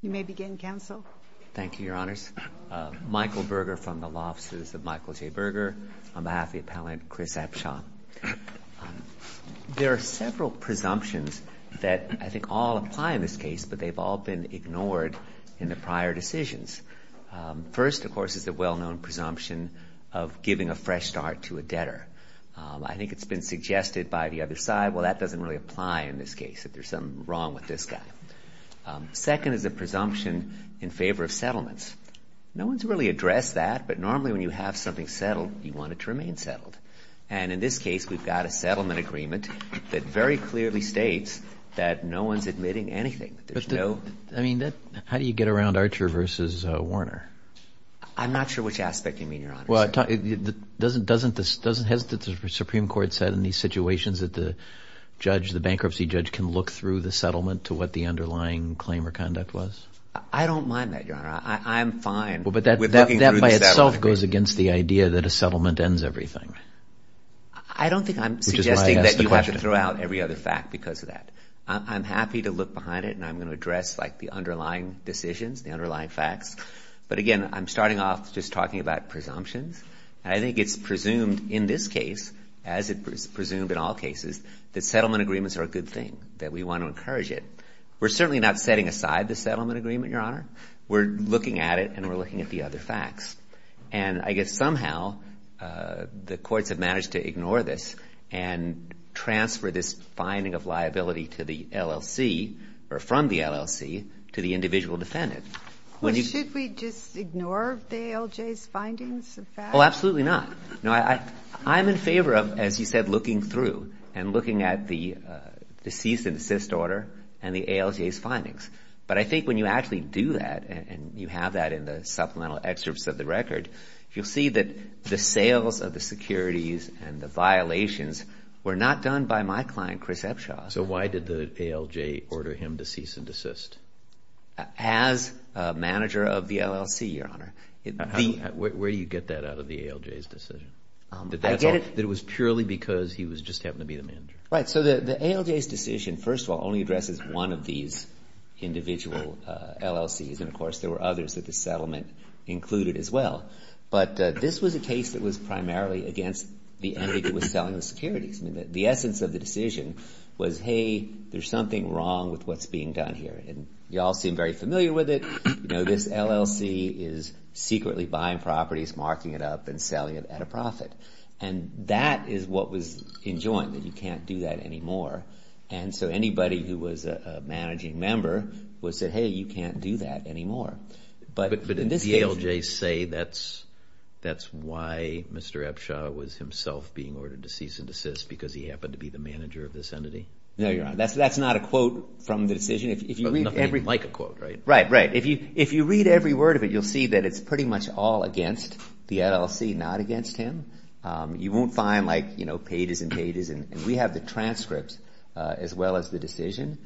You may begin, counsel. Thank you, Your Honors. Michael Berger from the Law Offices of Michael J. Berger. On behalf of the appellant, Chris Epsha. There are several presumptions that I think all apply in this case, but they've all been ignored in the prior decisions. First, of course, is the well-known presumption of giving a fresh start to a debtor. I think it's been suggested by the other side, well, that doesn't really apply in this case, that there's something wrong with this guy. Second is a presumption in favor of settlements. No one's really addressed that, but normally when you have something settled, you want it to remain settled. And in this case, we've got a settlement agreement that very clearly states that no one's admitting anything. I mean, how do you get around Archer v. Warner? I'm not sure which aspect you mean, Your Honor. Well, doesn't the Supreme Court say in these situations that the judge, the bankruptcy judge, can look through the settlement to what the underlying claim or conduct was? I don't mind that, Your Honor. I'm fine with looking through the settlement agreement. But that by itself goes against the idea that a settlement ends everything. I don't think I'm suggesting that you have to throw out every other fact because of that. I'm happy to look behind it, and I'm going to address, like, the underlying decisions, the underlying facts. But, again, I'm starting off just talking about presumptions, and I think it's presumed in this case, as it's presumed in all cases, that settlement agreements are a good thing, that we want to encourage it. We're certainly not setting aside the settlement agreement, Your Honor. We're looking at it, and we're looking at the other facts. And I guess somehow the courts have managed to ignore this and transfer this finding of liability to the LLC or from the LLC to the individual defendant. Should we just ignore the ALJ's findings of facts? Oh, absolutely not. No, I'm in favor of, as you said, looking through and looking at the cease and desist order and the ALJ's findings. But I think when you actually do that, and you have that in the supplemental excerpts of the record, you'll see that the sales of the securities and the violations were not done by my client, Chris Epshaw. So why did the ALJ order him to cease and desist? As manager of the LLC, Your Honor. Where do you get that out of the ALJ's decision? That it was purely because he was just happening to be the manager? Right. So the ALJ's decision, first of all, only addresses one of these individual LLCs. And, of course, there were others that the settlement included as well. But this was a case that was primarily against the entity that was selling the securities. The essence of the decision was, hey, there's something wrong with what's being done here. And you all seem very familiar with it. This LLC is secretly buying properties, marking it up, and selling it at a profit. And that is what was enjoined, that you can't do that anymore. And so anybody who was a managing member would say, hey, you can't do that anymore. But did the ALJ say that's why Mr. Epshaw was himself being ordered to cease and desist, because he happened to be the manager of this entity? No, Your Honor. That's not a quote from the decision. But nothing like a quote, right? Right, right. If you read every word of it, you'll see that it's pretty much all against the LLC, not against him. You won't find, like, you know, pages and pages. And we have the transcripts as well as the decision.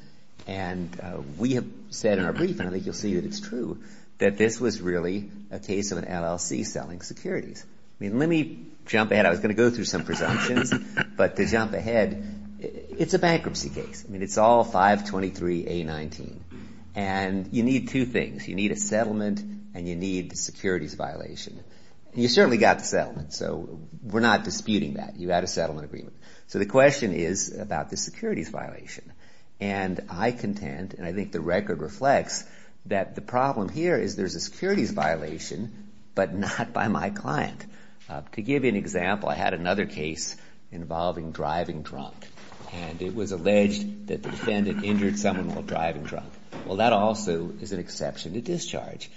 And we have said in our brief, and I think you'll see that it's true, that this was really a case of an LLC selling securities. I mean, let me jump ahead. I was going to go through some presumptions. But to jump ahead, it's a bankruptcy case. I mean, it's all 523A19. And you need two things. You need a settlement and you need the securities violation. And you certainly got the settlement, so we're not disputing that. You had a settlement agreement. So the question is about the securities violation. And I contend, and I think the record reflects, that the problem here is there's a securities violation, but not by my client. To give you an example, I had another case involving driving drunk. And it was alleged that the defendant injured someone while driving drunk. Well, that also is an exception to discharge.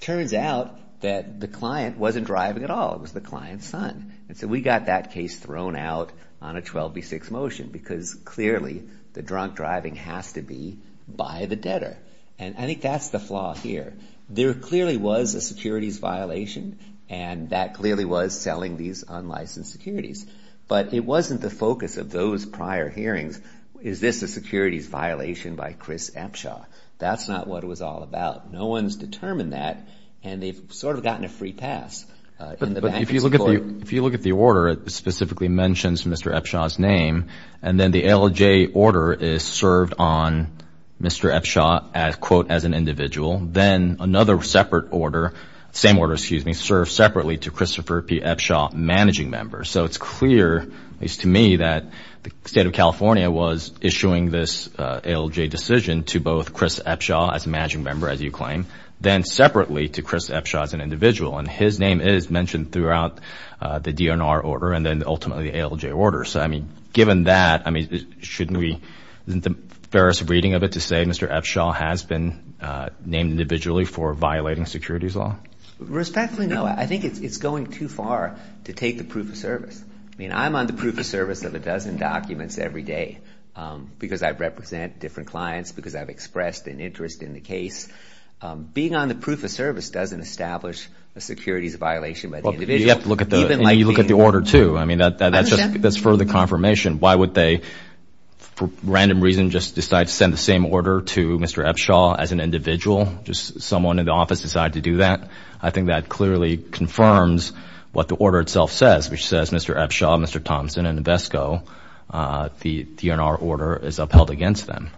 Turns out that the client wasn't driving at all. It was the client's son. And so we got that case thrown out on a 12b6 motion because clearly the drunk driving has to be by the debtor. And I think that's the flaw here. There clearly was a securities violation, and that clearly was selling these unlicensed securities. But it wasn't the focus of those prior hearings. Is this a securities violation by Chris Epshaw? That's not what it was all about. No one's determined that, and they've sort of gotten a free pass. But if you look at the order, it specifically mentions Mr. Epshaw's name. And then the ALJ order is served on Mr. Epshaw, quote, as an individual. Then another separate order, same order, excuse me, served separately to Christopher P. Epshaw, managing member. So it's clear, at least to me, that the state of California was issuing this ALJ decision to both Chris Epshaw as a managing member, as you claim, then separately to Chris Epshaw as an individual. And his name is mentioned throughout the DNR order and then ultimately the ALJ order. So, I mean, given that, I mean, shouldn't we, isn't the fairest reading of it to say Mr. Epshaw has been named individually for violating securities law? Respectfully, no. I think it's going too far to take the proof of service. I mean, I'm on the proof of service of a dozen documents every day because I represent different clients, because I've expressed an interest in the case. Being on the proof of service doesn't establish a securities violation by the individual. You have to look at the order, too. I mean, that's further confirmation. Why would they, for random reason, just decide to send the same order to Mr. Epshaw as an individual? Just someone in the office decided to do that? I think that clearly confirms what the order itself says, which says Mr. Epshaw, Mr. Thompson, and Invesco. The DNR order is upheld against them.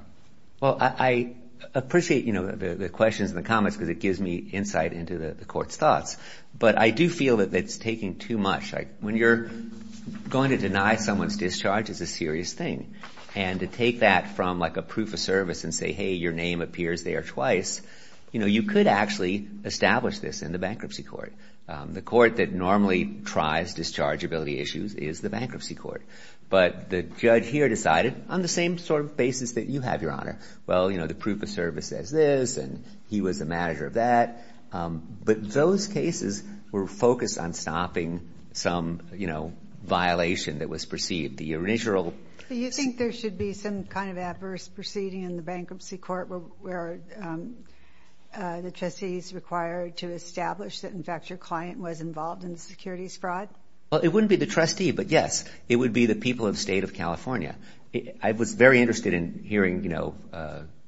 Well, I appreciate, you know, the questions and the comments because it gives me insight into the court's thoughts. But I do feel that it's taking too much. When you're going to deny someone's discharge, it's a serious thing. And to take that from like a proof of service and say, hey, your name appears there twice, you know, we established this in the bankruptcy court. The court that normally tries dischargeability issues is the bankruptcy court. But the judge here decided on the same sort of basis that you have, Your Honor. Well, you know, the proof of service says this, and he was the manager of that. But those cases were focused on stopping some, you know, violation that was perceived. Do you think there should be some kind of adverse proceeding in the bankruptcy court where the trustee is required to establish that, in fact, your client was involved in securities fraud? Well, it wouldn't be the trustee, but, yes, it would be the people of the state of California. I was very interested in hearing, you know,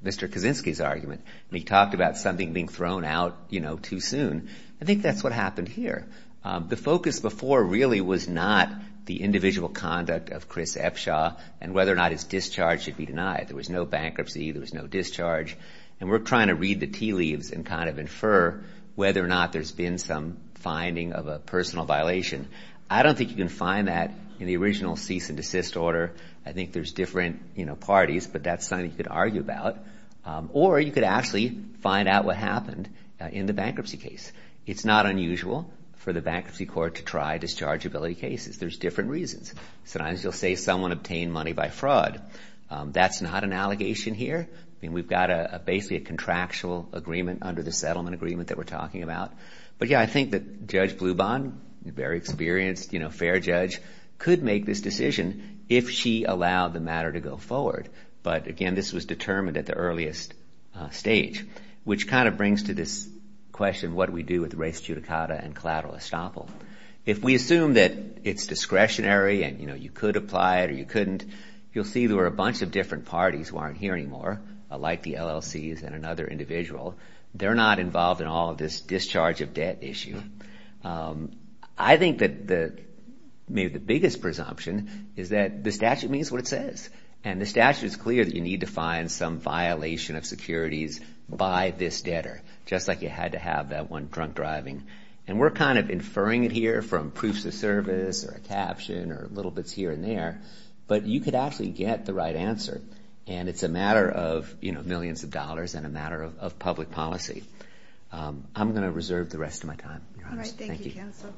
Mr. Kaczynski's argument. He talked about something being thrown out, you know, too soon. I think that's what happened here. The focus before really was not the individual conduct of Chris Epshaw and whether or not his discharge should be denied. There was no bankruptcy. There was no discharge. And we're trying to read the tea leaves and kind of infer whether or not there's been some finding of a personal violation. I don't think you can find that in the original cease and desist order. I think there's different, you know, parties, but that's something you could argue about. Or you could actually find out what happened in the bankruptcy case. It's not unusual for the bankruptcy court to try dischargeability cases. There's different reasons. Sometimes you'll say someone obtained money by fraud. That's not an allegation here. I mean, we've got basically a contractual agreement under the settlement agreement that we're talking about. But, yeah, I think that Judge Bluban, a very experienced, you know, fair judge, could make this decision if she allowed the matter to go forward. But, again, this was determined at the earliest stage, which kind of brings to this question what do we do with res judicata and collateral estoppel. If we assume that it's discretionary and, you know, you could apply it or you couldn't, you'll see there were a bunch of different parties who aren't here anymore, like the LLCs and another individual. They're not involved in all of this discharge of debt issue. I think that maybe the biggest presumption is that the statute means what it says. And the statute is clear that you need to find some violation of securities by this debtor, just like you had to have that one drunk driving. And we're kind of inferring it here from proofs of service or a caption or little bits here and there. But you could actually get the right answer. And it's a matter of, you know, millions of dollars and a matter of public policy. I'm going to reserve the rest of my time. All right, thank you, Counsel.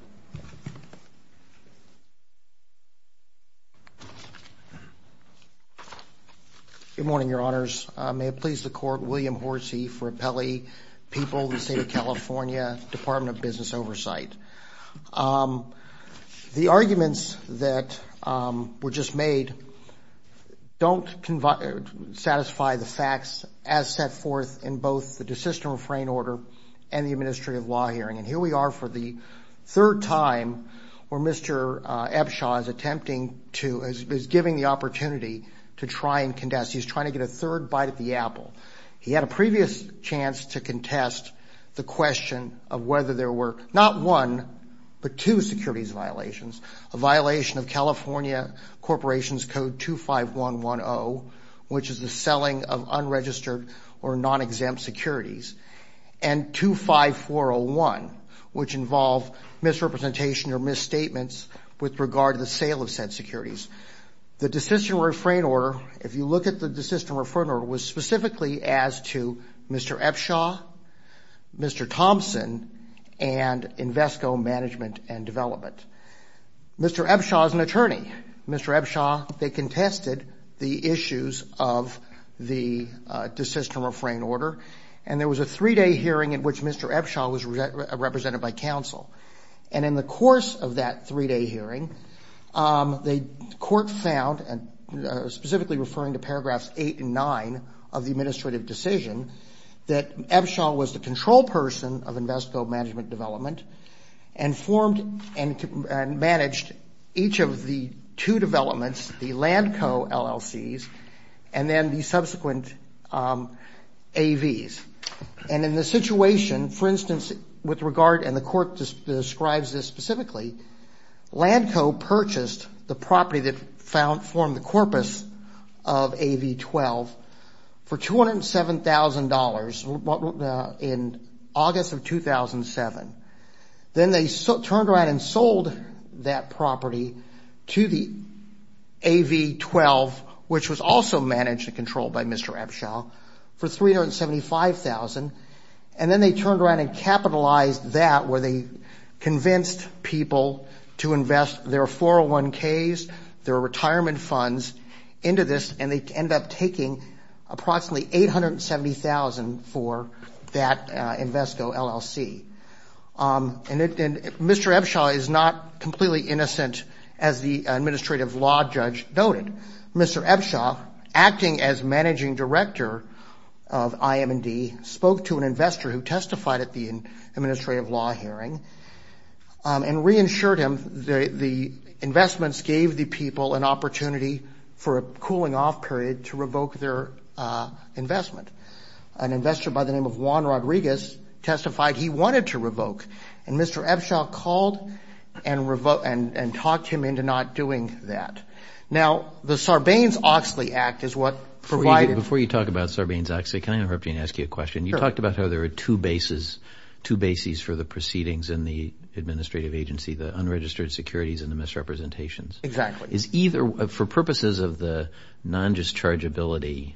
Good morning, Your Honors. May it please the Court, William Horsey for Appellee People, the State of California, Department of Business Oversight. The arguments that were just made don't satisfy the facts as set forth in both the desist and refrain order and the administrative law hearing. And here we are for the third time where Mr. Epshaw is giving the opportunity to try and contest. He's trying to get a third bite at the apple. He had a previous chance to contest the question of whether there were not one but two securities violations, a violation of California Corporations Code 25110, which is the selling of unregistered or non-exempt securities, and 25401, which involved misrepresentation or misstatements with regard to the sale of said securities. The desist and refrain order, if you look at the desist and refrain order, was specifically as to Mr. Epshaw, Mr. Thompson, and Invesco Management and Development. Mr. Epshaw, they contested the issues of the desist and refrain order, and there was a three-day hearing in which Mr. Epshaw was represented by counsel. And in the course of that three-day hearing, the Court found, specifically referring to paragraphs 8 and 9 of the administrative decision, that Epshaw was the control person of Invesco Management and Development and formed and managed each of the two developments, the Land Co. LLCs, and then the subsequent AVs. And in the situation, for instance, with regard, and the Court describes this specifically, Land Co. purchased the property that formed the corpus of AV 12 for $207,000 in August of 2007. Then they turned around and sold that property to the AV 12, which was also managed and controlled by Mr. Epshaw, for $375,000. And then they turned around and capitalized that, where they convinced people to invest their 401ks, their retirement funds, into this, and they ended up taking approximately $870,000 for that Invesco LLC. And Mr. Epshaw is not completely innocent, as the administrative law judge noted. Mr. Epshaw, acting as managing director of IM&D, spoke to an investor who testified at the administrative law hearing and reinsured him the investments gave the people an opportunity for a cooling-off period to revoke their investment. An investor by the name of Juan Rodriguez testified he wanted to revoke, and Mr. Epshaw called and talked him into not doing that. Now, the Sarbanes-Oxley Act is what provided – Before you talk about Sarbanes-Oxley, can I interrupt you and ask you a question? Sure. You talked about how there are two bases for the proceedings in the administrative agency, the unregistered securities and the misrepresentations. Exactly. For purposes of the non-dischargeability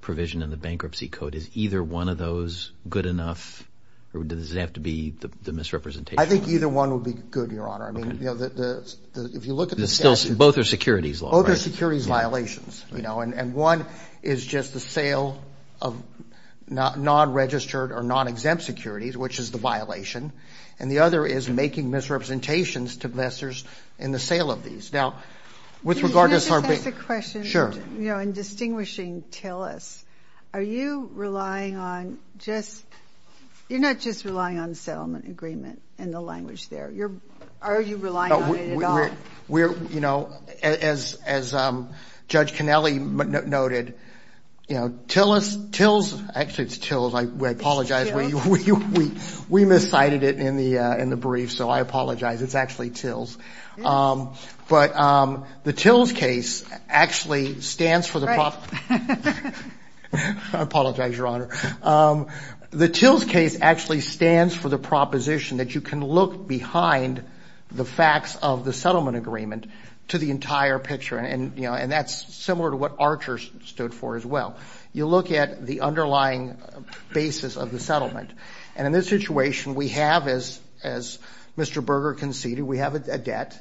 provision in the bankruptcy code, is either one of those good enough, or does it have to be the misrepresentations? I think either one would be good, Your Honor. If you look at the statute. Both are securities law, right? Both are securities violations. One is just the sale of non-registered or non-exempt securities, which is the violation, and the other is making misrepresentations to investors in the sale of these. Now, with regard to Sarbanes- Can I just ask a question? Sure. In distinguishing TELUS, are you relying on just – you're not just relying on settlement agreement in the language there. Are you relying on it at all? As Judge Cannelli noted, TELUS – actually, it's TILS. It's TILS. We miscited it in the brief, so I apologize. It's actually TILS. But the TILS case actually stands for the – Right. I apologize, Your Honor. The TILS case actually stands for the proposition that you can look behind the facts of the settlement agreement to the entire picture, and that's similar to what Archer stood for as well. You look at the underlying basis of the settlement. And in this situation, we have, as Mr. Berger conceded, we have a debt,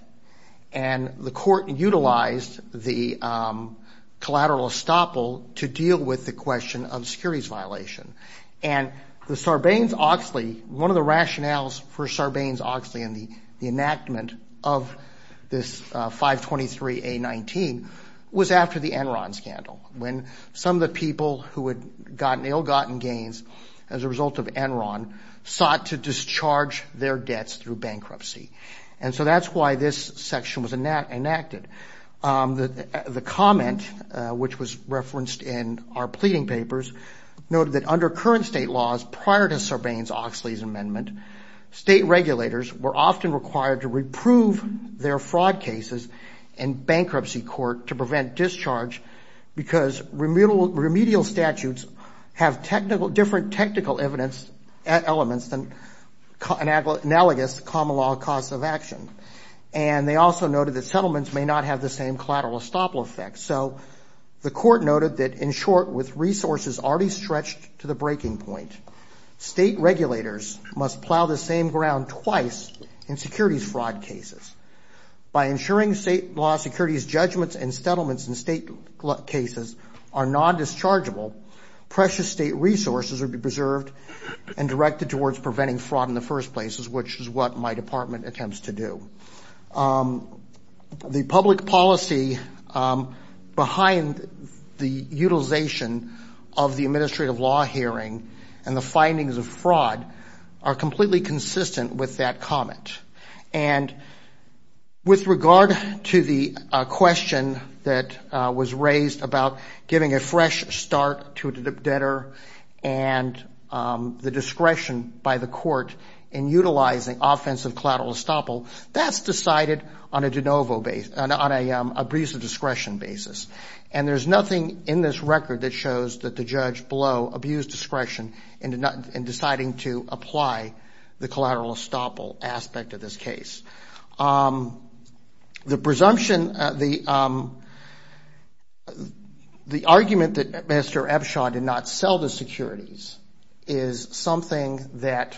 and the court utilized the collateral estoppel to deal with the question of securities violation. And the Sarbanes-Oxley – one of the rationales for Sarbanes-Oxley and the enactment of this 523A19 was after the Enron scandal, when some of the people who had gotten ill-gotten gains as a result of Enron sought to discharge their debts through bankruptcy. And so that's why this section was enacted. The comment, which was referenced in our pleading papers, noted that under current state laws prior to Sarbanes-Oxley's amendment, state regulators were often required to reprove their fraud cases in bankruptcy court to prevent discharge because remedial statutes have different technical evidence elements and analogous common law costs of action. And they also noted that settlements may not have the same collateral estoppel effect. So the court noted that, in short, with resources already stretched to the breaking point, state regulators must plow the same ground twice in securities fraud cases. By ensuring state law securities judgments and settlements in state cases are non-dischargeable, precious state resources would be preserved and directed towards preventing fraud in the first place, which is what my department attempts to do. The public policy behind the utilization of the administrative law hearing and the findings of fraud are completely consistent with that comment. And with regard to the question that was raised about giving a fresh start to a debtor and the discretion by the court in utilizing offensive collateral estoppel, that's decided on an abuse of discretion basis. And there's nothing in this record that shows that the judge below abused discretion in deciding to apply the collateral estoppel aspect of this case. The presumption, the argument that Mr. Ebshaw did not sell the securities is something that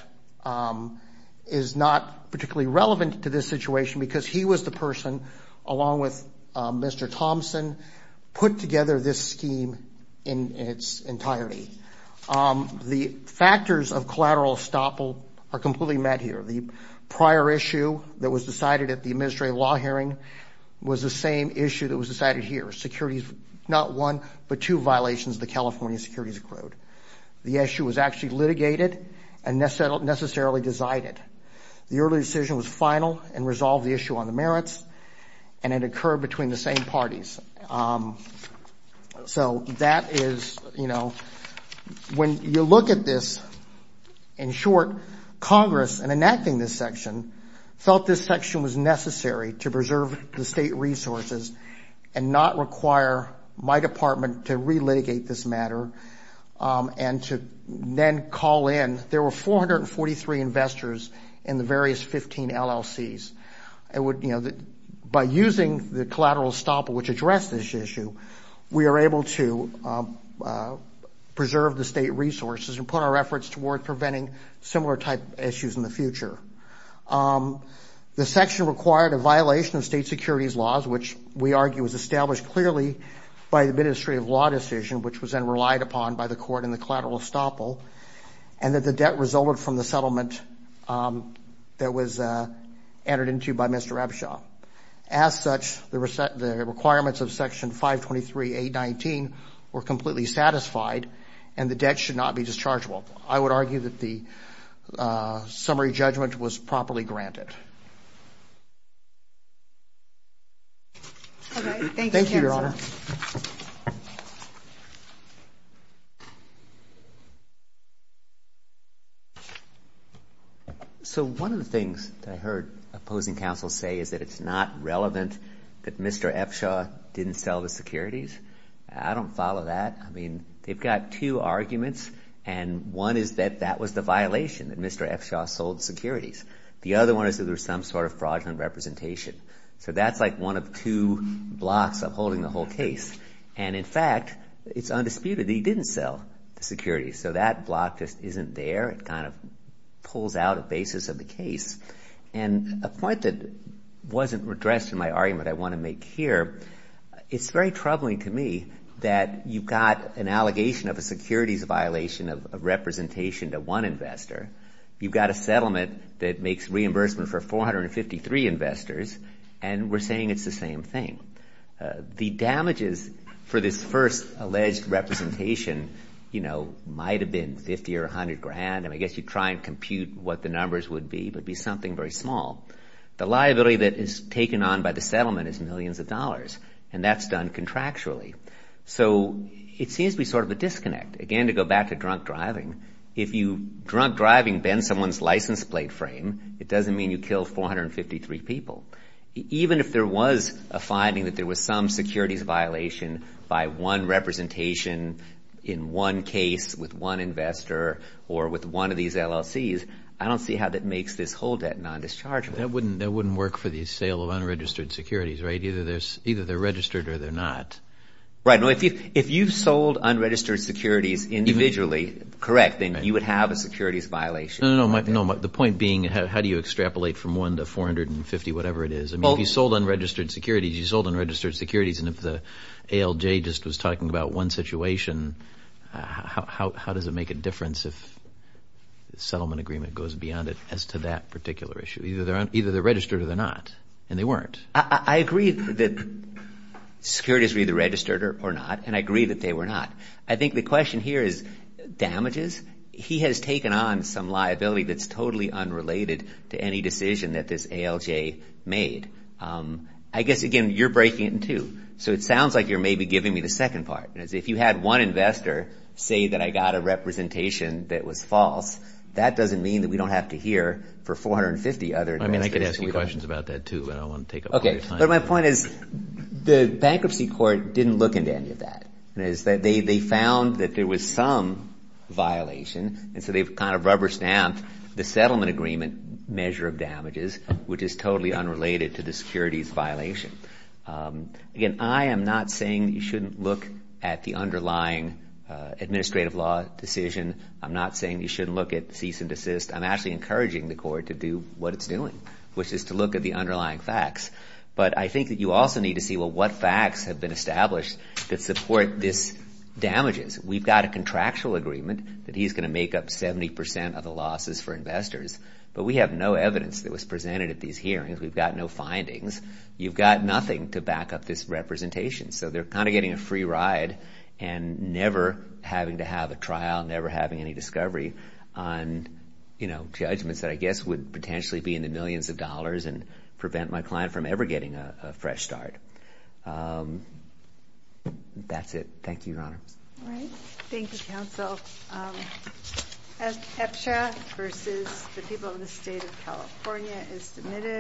is not particularly relevant to this situation because he was the person, along with Mr. Thompson, put together this scheme in its entirety. The factors of collateral estoppel are completely met here. The prior issue that was decided at the administrative law hearing was the same issue that was decided here. Securities, not one, but two violations of the California securities code. The issue was actually litigated and necessarily decided. The early decision was final and resolved the issue on the merits, and it occurred between the same parties. So that is, you know, when you look at this, in short, Congress, in enacting this section, felt this section was necessary to preserve the state resources and not require my department to relitigate this matter and to then call in. There were 443 investors in the various 15 LLCs. By using the collateral estoppel, which addressed this issue, we are able to preserve the state resources and put our efforts toward preventing similar type issues in the future. The section required a violation of state securities laws, which we argue was established clearly by the administrative law decision, which was then relied upon by the court in the collateral estoppel, and that the debt resulted from the settlement that was entered into by Mr. Ebshaw. As such, the requirements of Section 523.819 were completely satisfied, and the debt should not be dischargeable. I would argue that the summary judgment was properly granted. All right. Thank you, counsel. Thank you, Your Honor. So one of the things that I heard opposing counsel say is that it's not relevant that Mr. Ebshaw didn't sell the securities. I don't follow that. I mean, they've got two arguments, and one is that that was the violation, that Mr. Ebshaw sold securities. The other one is that there was some sort of fraudulent representation. So that's like one of two blocks of holding the whole case. And, in fact, it's undisputed that he didn't sell the securities. So that block just isn't there. It kind of pulls out a basis of the case. And a point that wasn't addressed in my argument I want to make here, it's very troubling to me that you've got an allegation of a securities violation of representation to one investor. You've got a settlement that makes reimbursement for 453 investors, and we're saying it's the same thing. The damages for this first alleged representation, you know, might have been 50 or 100 grand, and I guess you try and compute what the numbers would be. It would be something very small. The liability that is taken on by the settlement is millions of dollars, and that's done contractually. So it seems to be sort of a disconnect. Again, to go back to drunk driving, if you, drunk driving, bend someone's license plate frame, it doesn't mean you killed 453 people. Even if there was a finding that there was some securities violation by one representation in one case with one investor or with one of these LLCs, I don't see how that makes this hold that non-dischargeable. That wouldn't work for the sale of unregistered securities, right? Either they're registered or they're not. Right. You know, if you've sold unregistered securities individually, correct, then you would have a securities violation. No, no, no. The point being how do you extrapolate from 1 to 450, whatever it is? I mean, if you sold unregistered securities, you sold unregistered securities, and if the ALJ just was talking about one situation, how does it make a difference if the settlement agreement goes beyond it as to that particular issue? Either they're registered or they're not, and they weren't. I agree that securities were either registered or not, and I agree that they were not. I think the question here is damages. He has taken on some liability that's totally unrelated to any decision that this ALJ made. I guess, again, you're breaking it in two, so it sounds like you're maybe giving me the second part. If you had one investor say that I got a representation that was false, that doesn't mean that we don't have to hear for 450 other investors. I mean, I could ask you questions about that, too, but I don't want to take up all your time. But my point is the bankruptcy court didn't look into any of that. They found that there was some violation, and so they've kind of rubber-stamped the settlement agreement measure of damages, which is totally unrelated to the securities violation. Again, I am not saying you shouldn't look at the underlying administrative law decision. I'm not saying you shouldn't look at cease and desist. I'm actually encouraging the court to do what it's doing, which is to look at the underlying facts. But I think that you also need to see, well, what facts have been established that support this damages. We've got a contractual agreement that he's going to make up 70 percent of the losses for investors, but we have no evidence that was presented at these hearings. We've got no findings. You've got nothing to back up this representation. So they're kind of getting a free ride and never having to have a trial, never having any discovery on judgments that I guess would potentially be in the millions of dollars and prevent my client from ever getting a fresh start. That's it. Thank you, Your Honor. All right. Thank you, counsel. EPSHA versus the people of the state of California is submitted.